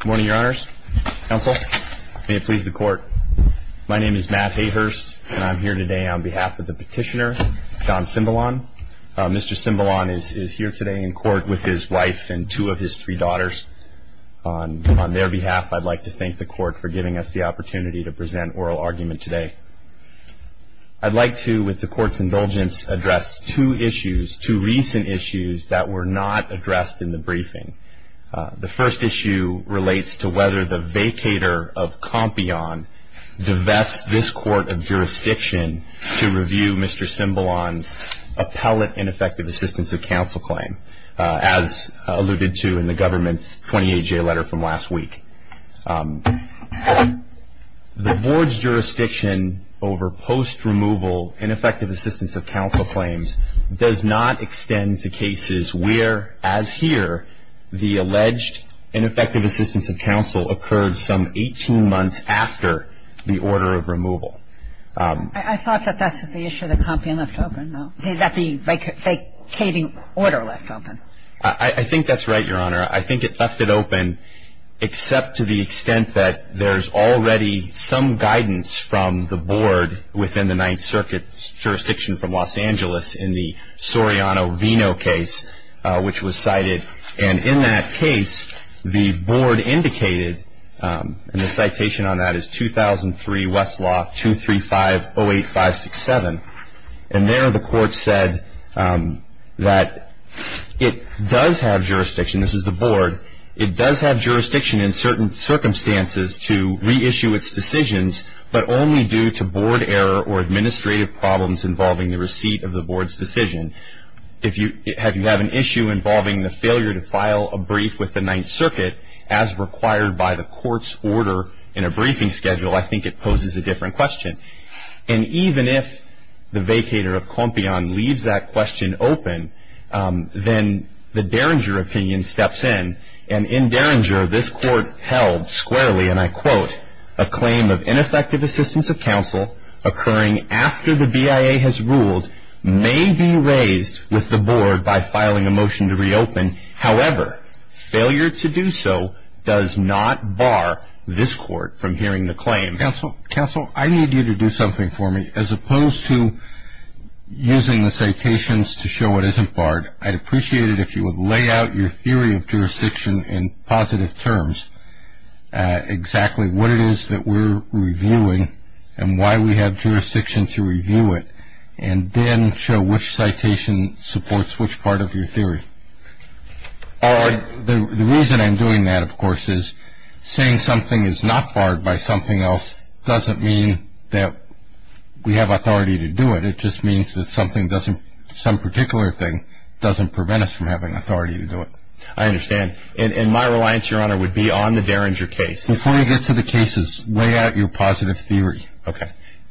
Good morning, your honors, counsel. May it please the court. My name is Matt Hayhurst, and I'm here today on behalf of the petitioner, John Cimbalon. Mr. Cimbalon is here today in court with his wife and two of his three daughters. On their behalf, I'd like to thank the court for giving us the opportunity to present oral argument today. I'd like to, with the court's indulgence, address two issues, two recent issues that were not addressed in the briefing. The first issue relates to whether the vacator of Compion divests this court of jurisdiction to review Mr. Cimbalon's appellate ineffective assistance of counsel claim, as alluded to in the government's 28-J letter from last week. The board's jurisdiction over post-removal ineffective assistance of counsel claims does not The alleged ineffective assistance of counsel occurred some 18 months after the order of removal. I thought that that's what the issue of the Compion left open. That the vacating order left open. I think that's right, your honor. I think it left it open, except to the extent that there's already some guidance from the board within the Ninth Circuit's jurisdiction from Los Angeles in the Soriano-Vino case, which was cited. And in that case, the board indicated, and the citation on that is 2003 Westlaw 23508567. And there the court said that it does have jurisdiction, this is the board, it does have jurisdiction in certain circumstances to reissue its decisions, but only due to board error or administrative problems involving the receipt of the board's decision. If you have an issue involving the failure to file a brief with the Ninth Circuit, as required by the court's order in a briefing schedule, I think it poses a different question. And even if the vacator of Compion leaves that question open, then the Derringer opinion steps in. And in Derringer, this court held squarely, and I quote, a claim of ineffective assistance of counsel occurring after the BIA has ruled may be raised with the board by filing a motion to reopen. However, failure to do so does not bar this court from hearing the claim. Counsel, counsel, I need you to do something for me. As opposed to using the citations to show it isn't barred, I'd appreciate it if you would lay out your theory of jurisdiction in positive terms, exactly what it is that we're reviewing and why we have jurisdiction to review it. And then show which citation supports which part of your theory. The reason I'm doing that, of course, is saying something is not barred by something else doesn't mean that we have authority to do it. It just means that something doesn't, some particular thing, doesn't prevent us from having authority to do it. I understand. And my reliance, Your Honor, would be on the Derringer case. Before we get to the cases, lay out your positive theory. OK.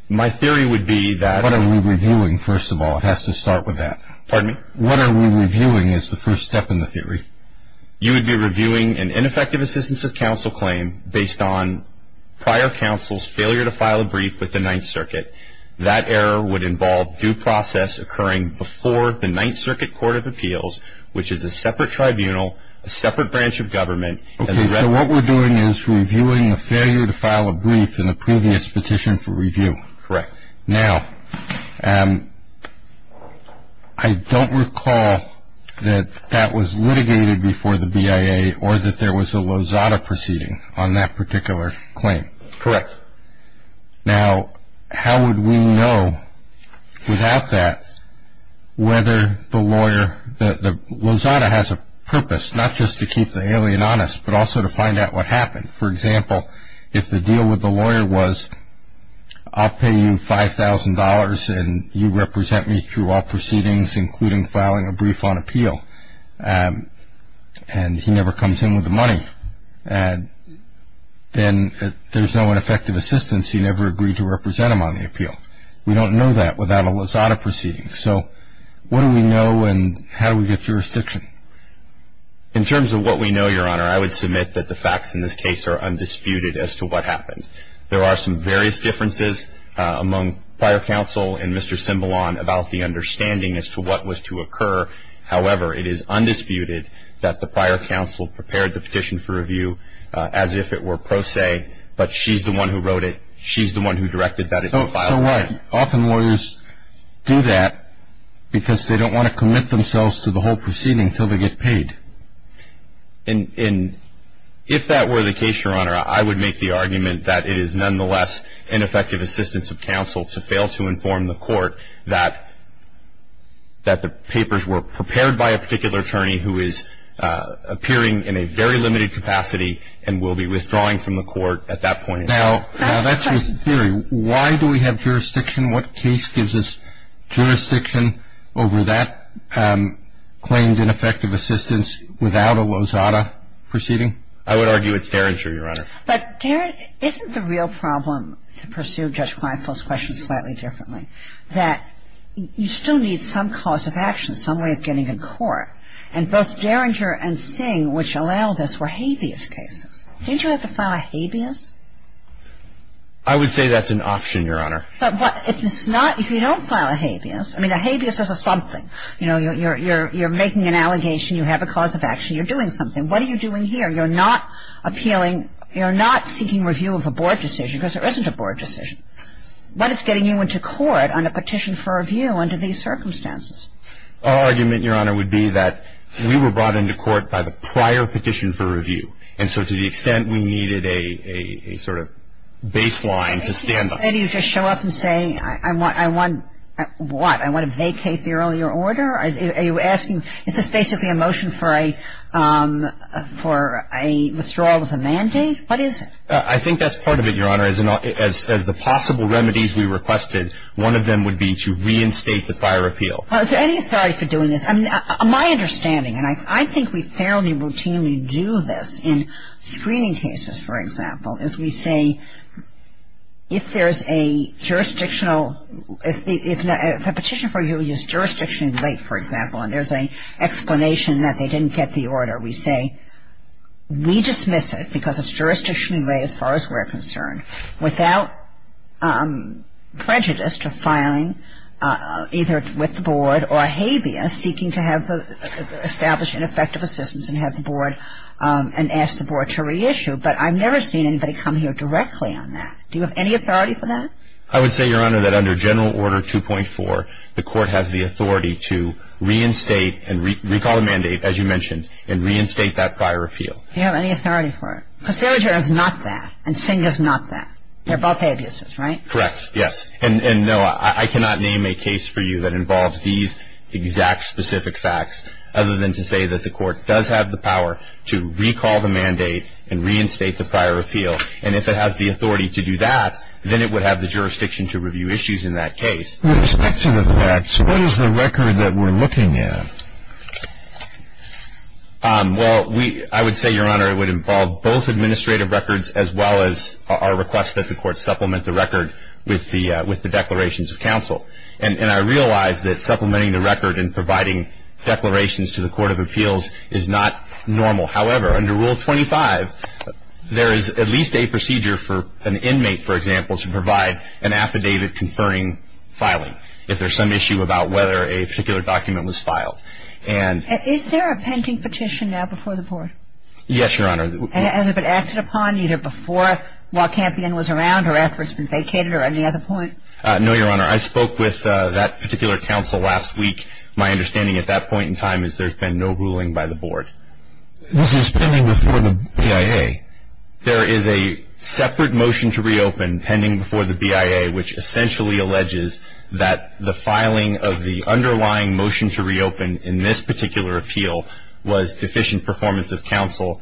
My theory would be that- What are we reviewing, first of all? It has to start with that. Pardon me? What are we reviewing is the first step in the theory. You would be reviewing an ineffective assistance of counsel claim based on prior counsel's failure to file a brief with the Ninth Circuit. That error would involve due process occurring before the Ninth Circuit Court of Appeals, which is a separate tribunal, a separate branch of government. OK, so what we're doing is reviewing a failure to file a brief in the previous petition for review. Correct. Now, I don't recall that that was litigated before the BIA or that there was a Lozada proceeding on that particular claim. Correct. Now, how would we know without that whether the lawyer, the Lozada has a purpose, not just to keep the alien honest, but also to find out what happened. For example, if the deal with the lawyer was I'll pay you $5,000, and you represent me through all proceedings, including filing a brief on appeal, and he never comes in with the money, then there's no ineffective assistance. He never agreed to represent him on the appeal. We don't know that without a Lozada proceeding. So what do we know, and how do we get jurisdiction? In terms of what we know, Your Honor, I would submit that the facts in this case are undisputed as to what happened. There are some various differences among prior counsel and Mr. Cimbalon about the understanding as to what was to occur. However, it is undisputed that the prior counsel prepared the petition for review as if it were pro se, but she's the one who wrote it. She's the one who directed that it be filed. Often lawyers do that because they don't want to commit themselves to the whole proceeding until they get paid. And if that were the case, Your Honor, I would make the argument that it is nonetheless ineffective assistance of counsel to fail to inform the court that the papers were prepared by a particular attorney who is appearing in a very limited capacity and will be withdrawing from the court at that point. Now, that's your theory. Why do we have jurisdiction? What case gives us jurisdiction over that claimed ineffective assistance without a Lozada proceeding? I would argue it's Derringer, Your Honor. But isn't the real problem to pursue Judge Kleinfeld's questions slightly differently, that you still need some cause of action, some way of getting in court? And both Derringer and Singh, which allowed us, were habeas cases. Didn't you have to file a habeas? I would say that's an option, Your Honor. But if it's not, if you don't file a habeas, I mean, a habeas is a something. You know, you're making an allegation, you have a cause of action, you're doing something. What are you doing here? You're not appealing, you're not seeking review of a board decision, because there isn't a board decision. What is getting you into court on a petition for review under these circumstances? Our argument, Your Honor, would be that we were brought into court by the prior petition for review. And so to the extent we needed a sort of baseline to stand on. Maybe you just show up and say, I want what? I want to vacate the earlier order? Are you asking, is this basically a motion for a withdrawal as a mandate? What is it? I think that's part of it, Your Honor. As the possible remedies we requested, one of them would be to reinstate the prior appeal. Is there any authority for doing this? My understanding, and I think we fairly routinely do this in screening cases, for example, is we say, if there is a jurisdictional, if a petition for review is jurisdictionally late, for example, and there's an explanation that they didn't get the order, we say, we dismiss it, because it's jurisdictionally late as far as we're concerned, without prejudice to filing either with the board or habeas, seeking to establish ineffective assistance and have the board and ask the board to reissue. But I've never seen anybody come here directly on that. Do you have any authority for that? I would say, Your Honor, that under General Order 2.4, the court has the authority to reinstate and recall the mandate, as you mentioned, and reinstate that prior appeal. Do you have any authority for it? Because Dillinger is not that. And Singh is not that. They're both habeas, right? Correct, yes. And no, I cannot name a case for you that involves these exact specific facts, other than to say that the court does have the power to recall the mandate and reinstate the prior appeal. And if it has the authority to do that, then it would have the jurisdiction to review issues in that case. With respect to the facts, what is the record that we're looking at? Well, I would say, Your Honor, it would involve both administrative records, as well as our request that the court supplement the record with the declarations of counsel. And I realize that supplementing the record and providing declarations to the Court of Appeals is not normal. However, under Rule 25, there is at least a procedure for an inmate, for example, to provide an affidavit conferring filing, if there's some issue about whether a particular document was filed. And is there a pending petition now before the board? Yes, Your Honor. Has it been acted upon either before Law Champion was around or after it's been vacated, or any other point? No, Your Honor. I spoke with that particular counsel last week. My understanding at that point in time is there's been no ruling by the board. This is pending before the BIA. There is a separate motion to reopen, pending before the BIA, which essentially alleges that the filing of the underlying motion to reopen in this particular appeal was deficient performance of counsel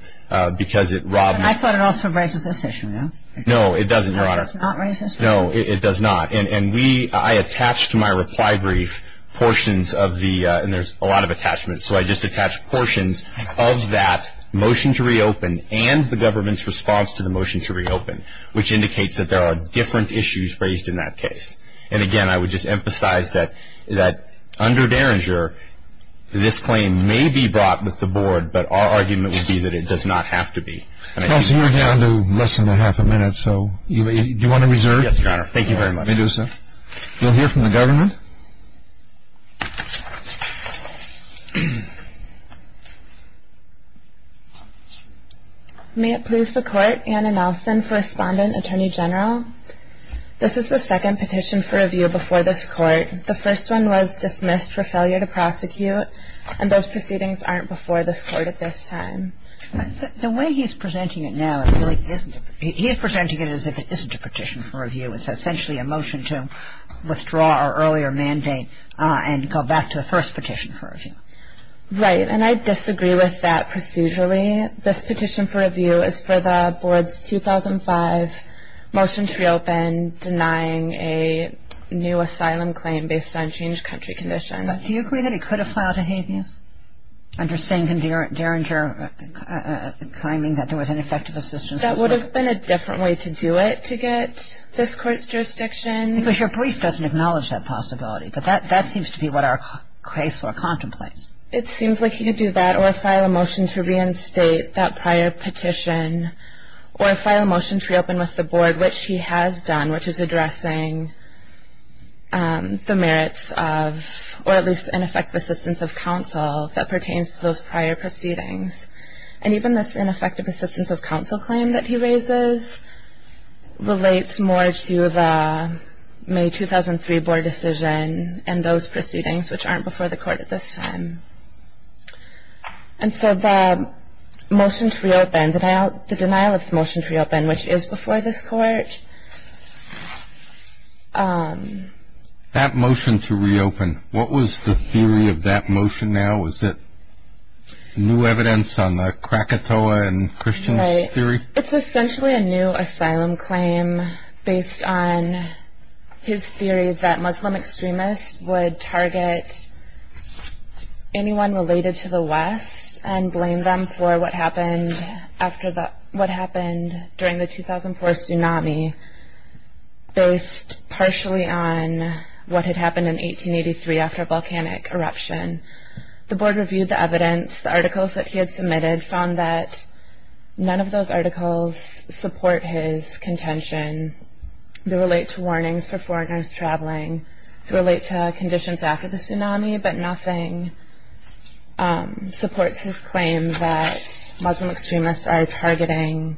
because it robbed me. I thought it also raises this issue, no? No, it doesn't, Your Honor. No, it does not raise this issue? No, it does not. And we, I attached to my reply brief portions of the, and there's a lot of attachments, so I just attached portions of that motion to reopen and the government's response to the motion to reopen, which indicates that there are different issues raised in that case. And again, I would just emphasize that under Derringer, this claim may be brought with the board, but our argument would be that it does not have to be. Counsel, we're down to less than a half a minute, so do you want to reserve? Yes, Your Honor. Thank you very much. You may do so. We'll hear from the government. May it please the Court, Anna Nelson, Correspondent, Attorney General. This is the second petition for review before this Court. The first one was dismissed for failure to prosecute, and those proceedings aren't before this Court at this time. The way he's presenting it now, it really isn't. He is presenting it as if it isn't a petition for review. It's a motion to withdraw our earlier petition. And go back to the first petition for review. Right. And I disagree with that procedurally. This petition for review is for the board's 2005 motion to reopen denying a new asylum claim based on changed country conditions. But do you agree that it could have filed a habeas under Sengen-Derringer, claiming that there was ineffective assistance? That would have been a different way to do it, to get this Court's jurisdiction. Because your brief doesn't acknowledge that possibility, but that seems to be what our case law contemplates. It seems like he could do that, or file a motion to reinstate that prior petition, or file a motion to reopen with the board, which he has done, which is addressing the merits of, or at least ineffective assistance of counsel that pertains to those prior proceedings. And even this ineffective assistance of counsel claim that he raises relates more to the May 2003 board decision and those proceedings, which aren't before the Court at this time. And so the motion to reopen, the denial of the motion to reopen, which is before this Court. That motion to reopen, what was the theory of that motion now? Was it new evidence on the Krakatoa and Christians theory? It's essentially a new asylum claim based on his theory that Muslim extremists would target anyone related to the West and blame them for what happened during the 2004 tsunami, based partially on what had happened in 1883 after a volcanic eruption. The board reviewed the evidence. The articles that he had submitted found that none of those articles support his contention. They relate to warnings for foreigners traveling. They relate to conditions after the tsunami, but nothing supports his claim that Muslim extremists are targeting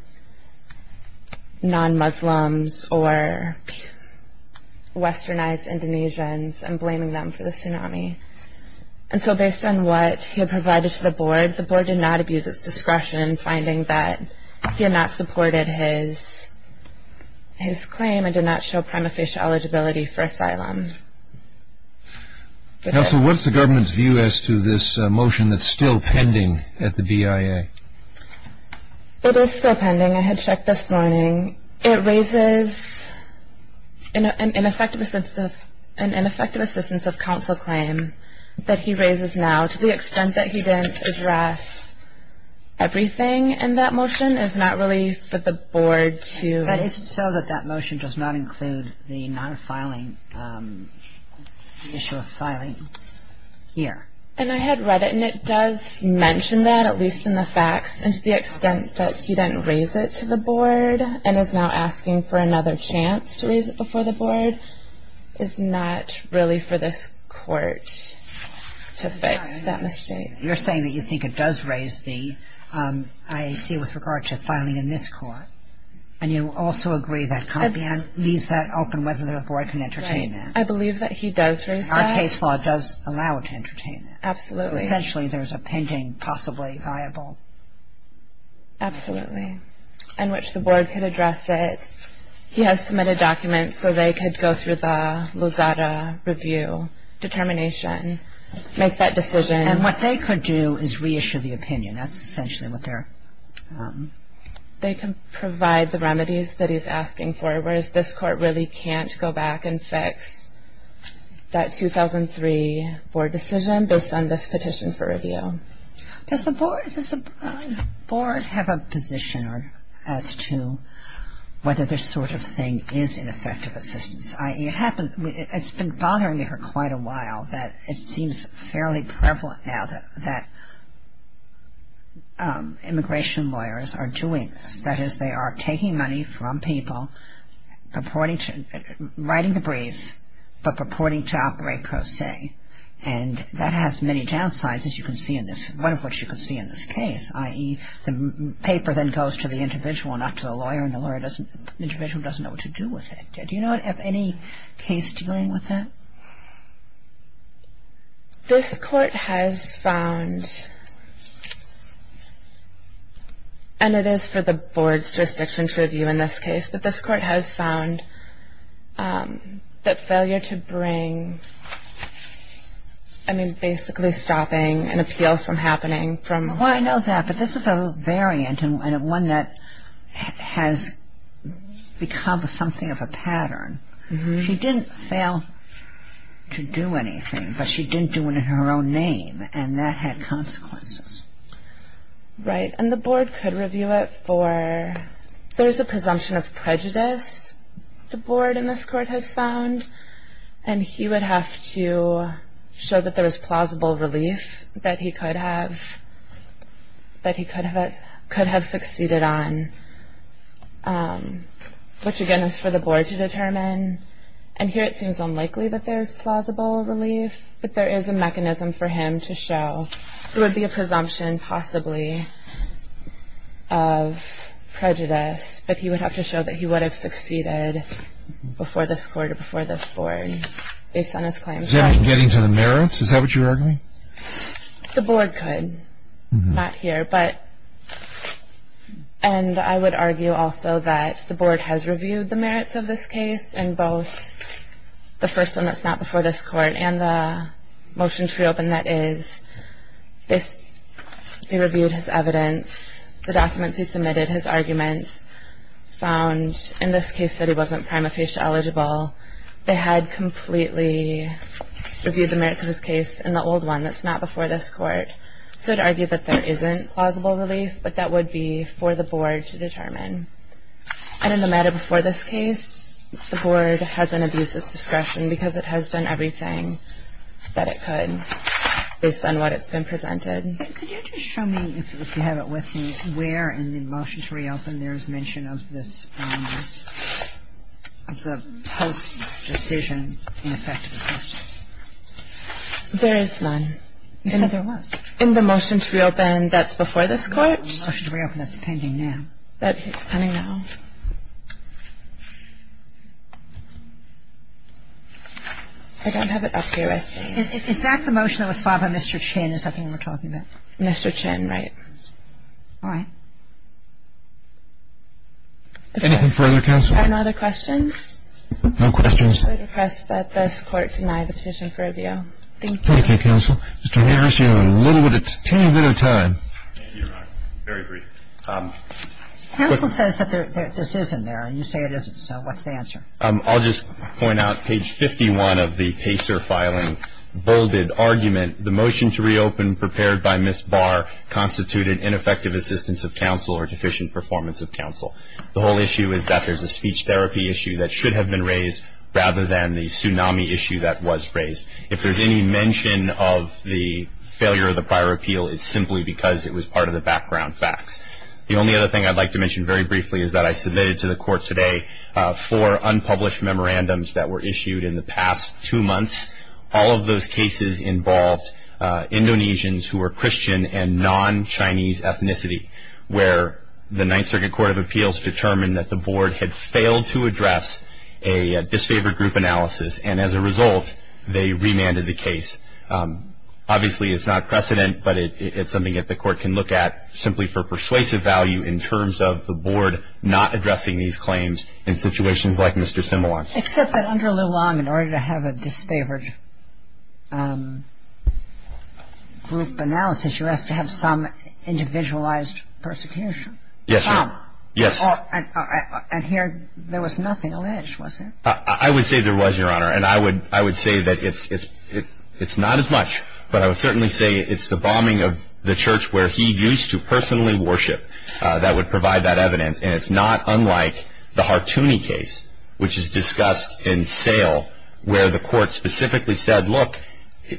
non-Muslims or westernized Indonesians and blaming them for the tsunami. And so based on what he had provided to the board, the board did not abuse its discretion in finding that he had not supported his claim and did not show prima facie eligibility for asylum. Counsel, what is the government's view as to this motion that's still pending at the BIA? It is still pending. I had checked this morning. It raises an ineffective assistance of counsel claim that he raises now to the extent that he didn't address everything in that motion. It's not really for the board to. Is it so that that motion does not include the non-filing issue of filing here? And I had read it, and it does mention that, at least in the facts, and to the extent that he didn't raise it to the board and is now asking for another chance to raise it before the board, is not really for this court to fix that mistake. You're saying that you think it does raise the IAC with regard to filing in this court, and you also agree that Compion leaves that open whether the board can entertain that. Right. I believe that he does raise that. Our case law does allow it to entertain that. Absolutely. So essentially there's a pending possibly viable. Absolutely. In which the board could address it. He has submitted documents so they could go through the Lozada review determination, make that decision. And what they could do is reissue the opinion. That's essentially what they're. They can provide the remedies that he's asking for, whereas this court really can't go back and fix that 2003 board decision based on this petition for review. Does the board have a position as to whether this sort of thing is ineffective assistance? It's been bothering me for quite a while that it seems fairly prevalent now that immigration lawyers are doing this. That is, they are taking money from people, writing the briefs, but purporting to operate pro se. And that has many downsides, as you can see in this, one of which you can see in this case, i.e. the paper then goes to the individual, not to the lawyer, and the individual doesn't know what to do with it. Do you know of any case dealing with that? This court has found, and it is for the board's jurisdiction to review in this case, but this court has found that failure to bring, I mean, basically stopping an appeal from happening. Well, I know that, but this is a variant and one that has become something of a pattern. She didn't fail to do anything, but she didn't do it in her own name, and that had consequences. Right. And the board could review it for, there's a presumption of prejudice the board in this court has found, and he would have to show that there was plausible relief that he could have succeeded on, which, again, is for the board to determine. And here it seems unlikely that there's plausible relief, but there is a mechanism for him to show. It would be a presumption, possibly, of prejudice, but he would have to show that he would have succeeded before this court or before this board based on his claims. Getting to the merits, is that what you're arguing? The board could, not here. And I would argue also that the board has reviewed the merits of this case, and both the first one that's not before this court and the motion to reopen that is, they reviewed his evidence, the documents he submitted, his arguments, found in this case that he wasn't prima facie eligible. They had completely reviewed the merits of his case in the old one that's not before this court, so to argue that there isn't plausible relief, but that would be for the board to determine. And in the matter before this case, the board has an abuses discretion because it has done everything that it could based on what it's been presented. Could you just show me, if you have it with you, where in the motion to reopen there is mention of this, of the post-decision ineffectiveness? There is none. In the motion to reopen that's before this court? The motion to reopen that's pending now. It's pending now. I don't have it up here. Is that the motion that was filed by Mr. Chin is something we're talking about? Mr. Chin, right. All right. Anything further, counsel? Are there no other questions? No questions. I request that this court deny the position for review. Thank you. Thank you, counsel. Mr. Harris, you have a little bit of time. Thank you, Your Honor. Very brief. Counsel says that this isn't there, and you say it isn't. So what's the answer? I'll just point out page 51 of the Pacer filing bolded argument. The motion to reopen prepared by Ms. Barr constituted ineffective assistance of counsel or deficient performance of counsel. The whole issue is that there's a speech therapy issue that should have been raised rather than the tsunami issue that was raised. If there's any mention of the failure of the prior appeal, it's simply because it was part of the background facts. The only other thing I'd like to mention very briefly is that I submitted to the court today four unpublished memorandums that were issued in the past two months. All of those cases involved Indonesians who were Christian and non-Chinese ethnicity, where the Ninth Circuit Court of Appeals determined that the board had failed to address a Obviously, it's not precedent, but it's something that the court can look at simply for persuasive value in terms of the board not addressing these claims in situations like Mr. Simulon. Except that under Lu Long, in order to have a disfavored group analysis, you have to have some individualized persecution. Yes, Your Honor. Some. Yes. And here there was nothing alleged, was there? I would say there was, Your Honor. And I would say that it's not as much, but I would certainly say it's the bombing of the church where he used to personally worship that would provide that evidence. And it's not unlike the Hartuni case, which is discussed in sale, where the court specifically said, look,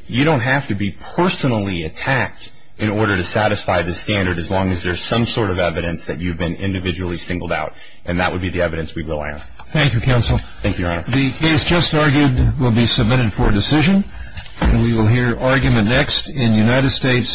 you don't have to be personally attacked in order to satisfy this standard as long as there's some sort of evidence that you've been individually singled out. And that would be the evidence we rely on. Thank you, Counsel. Thank you, Your Honor. The case just argued will be submitted for decision, and we will hear argument next in United States v. Alderman.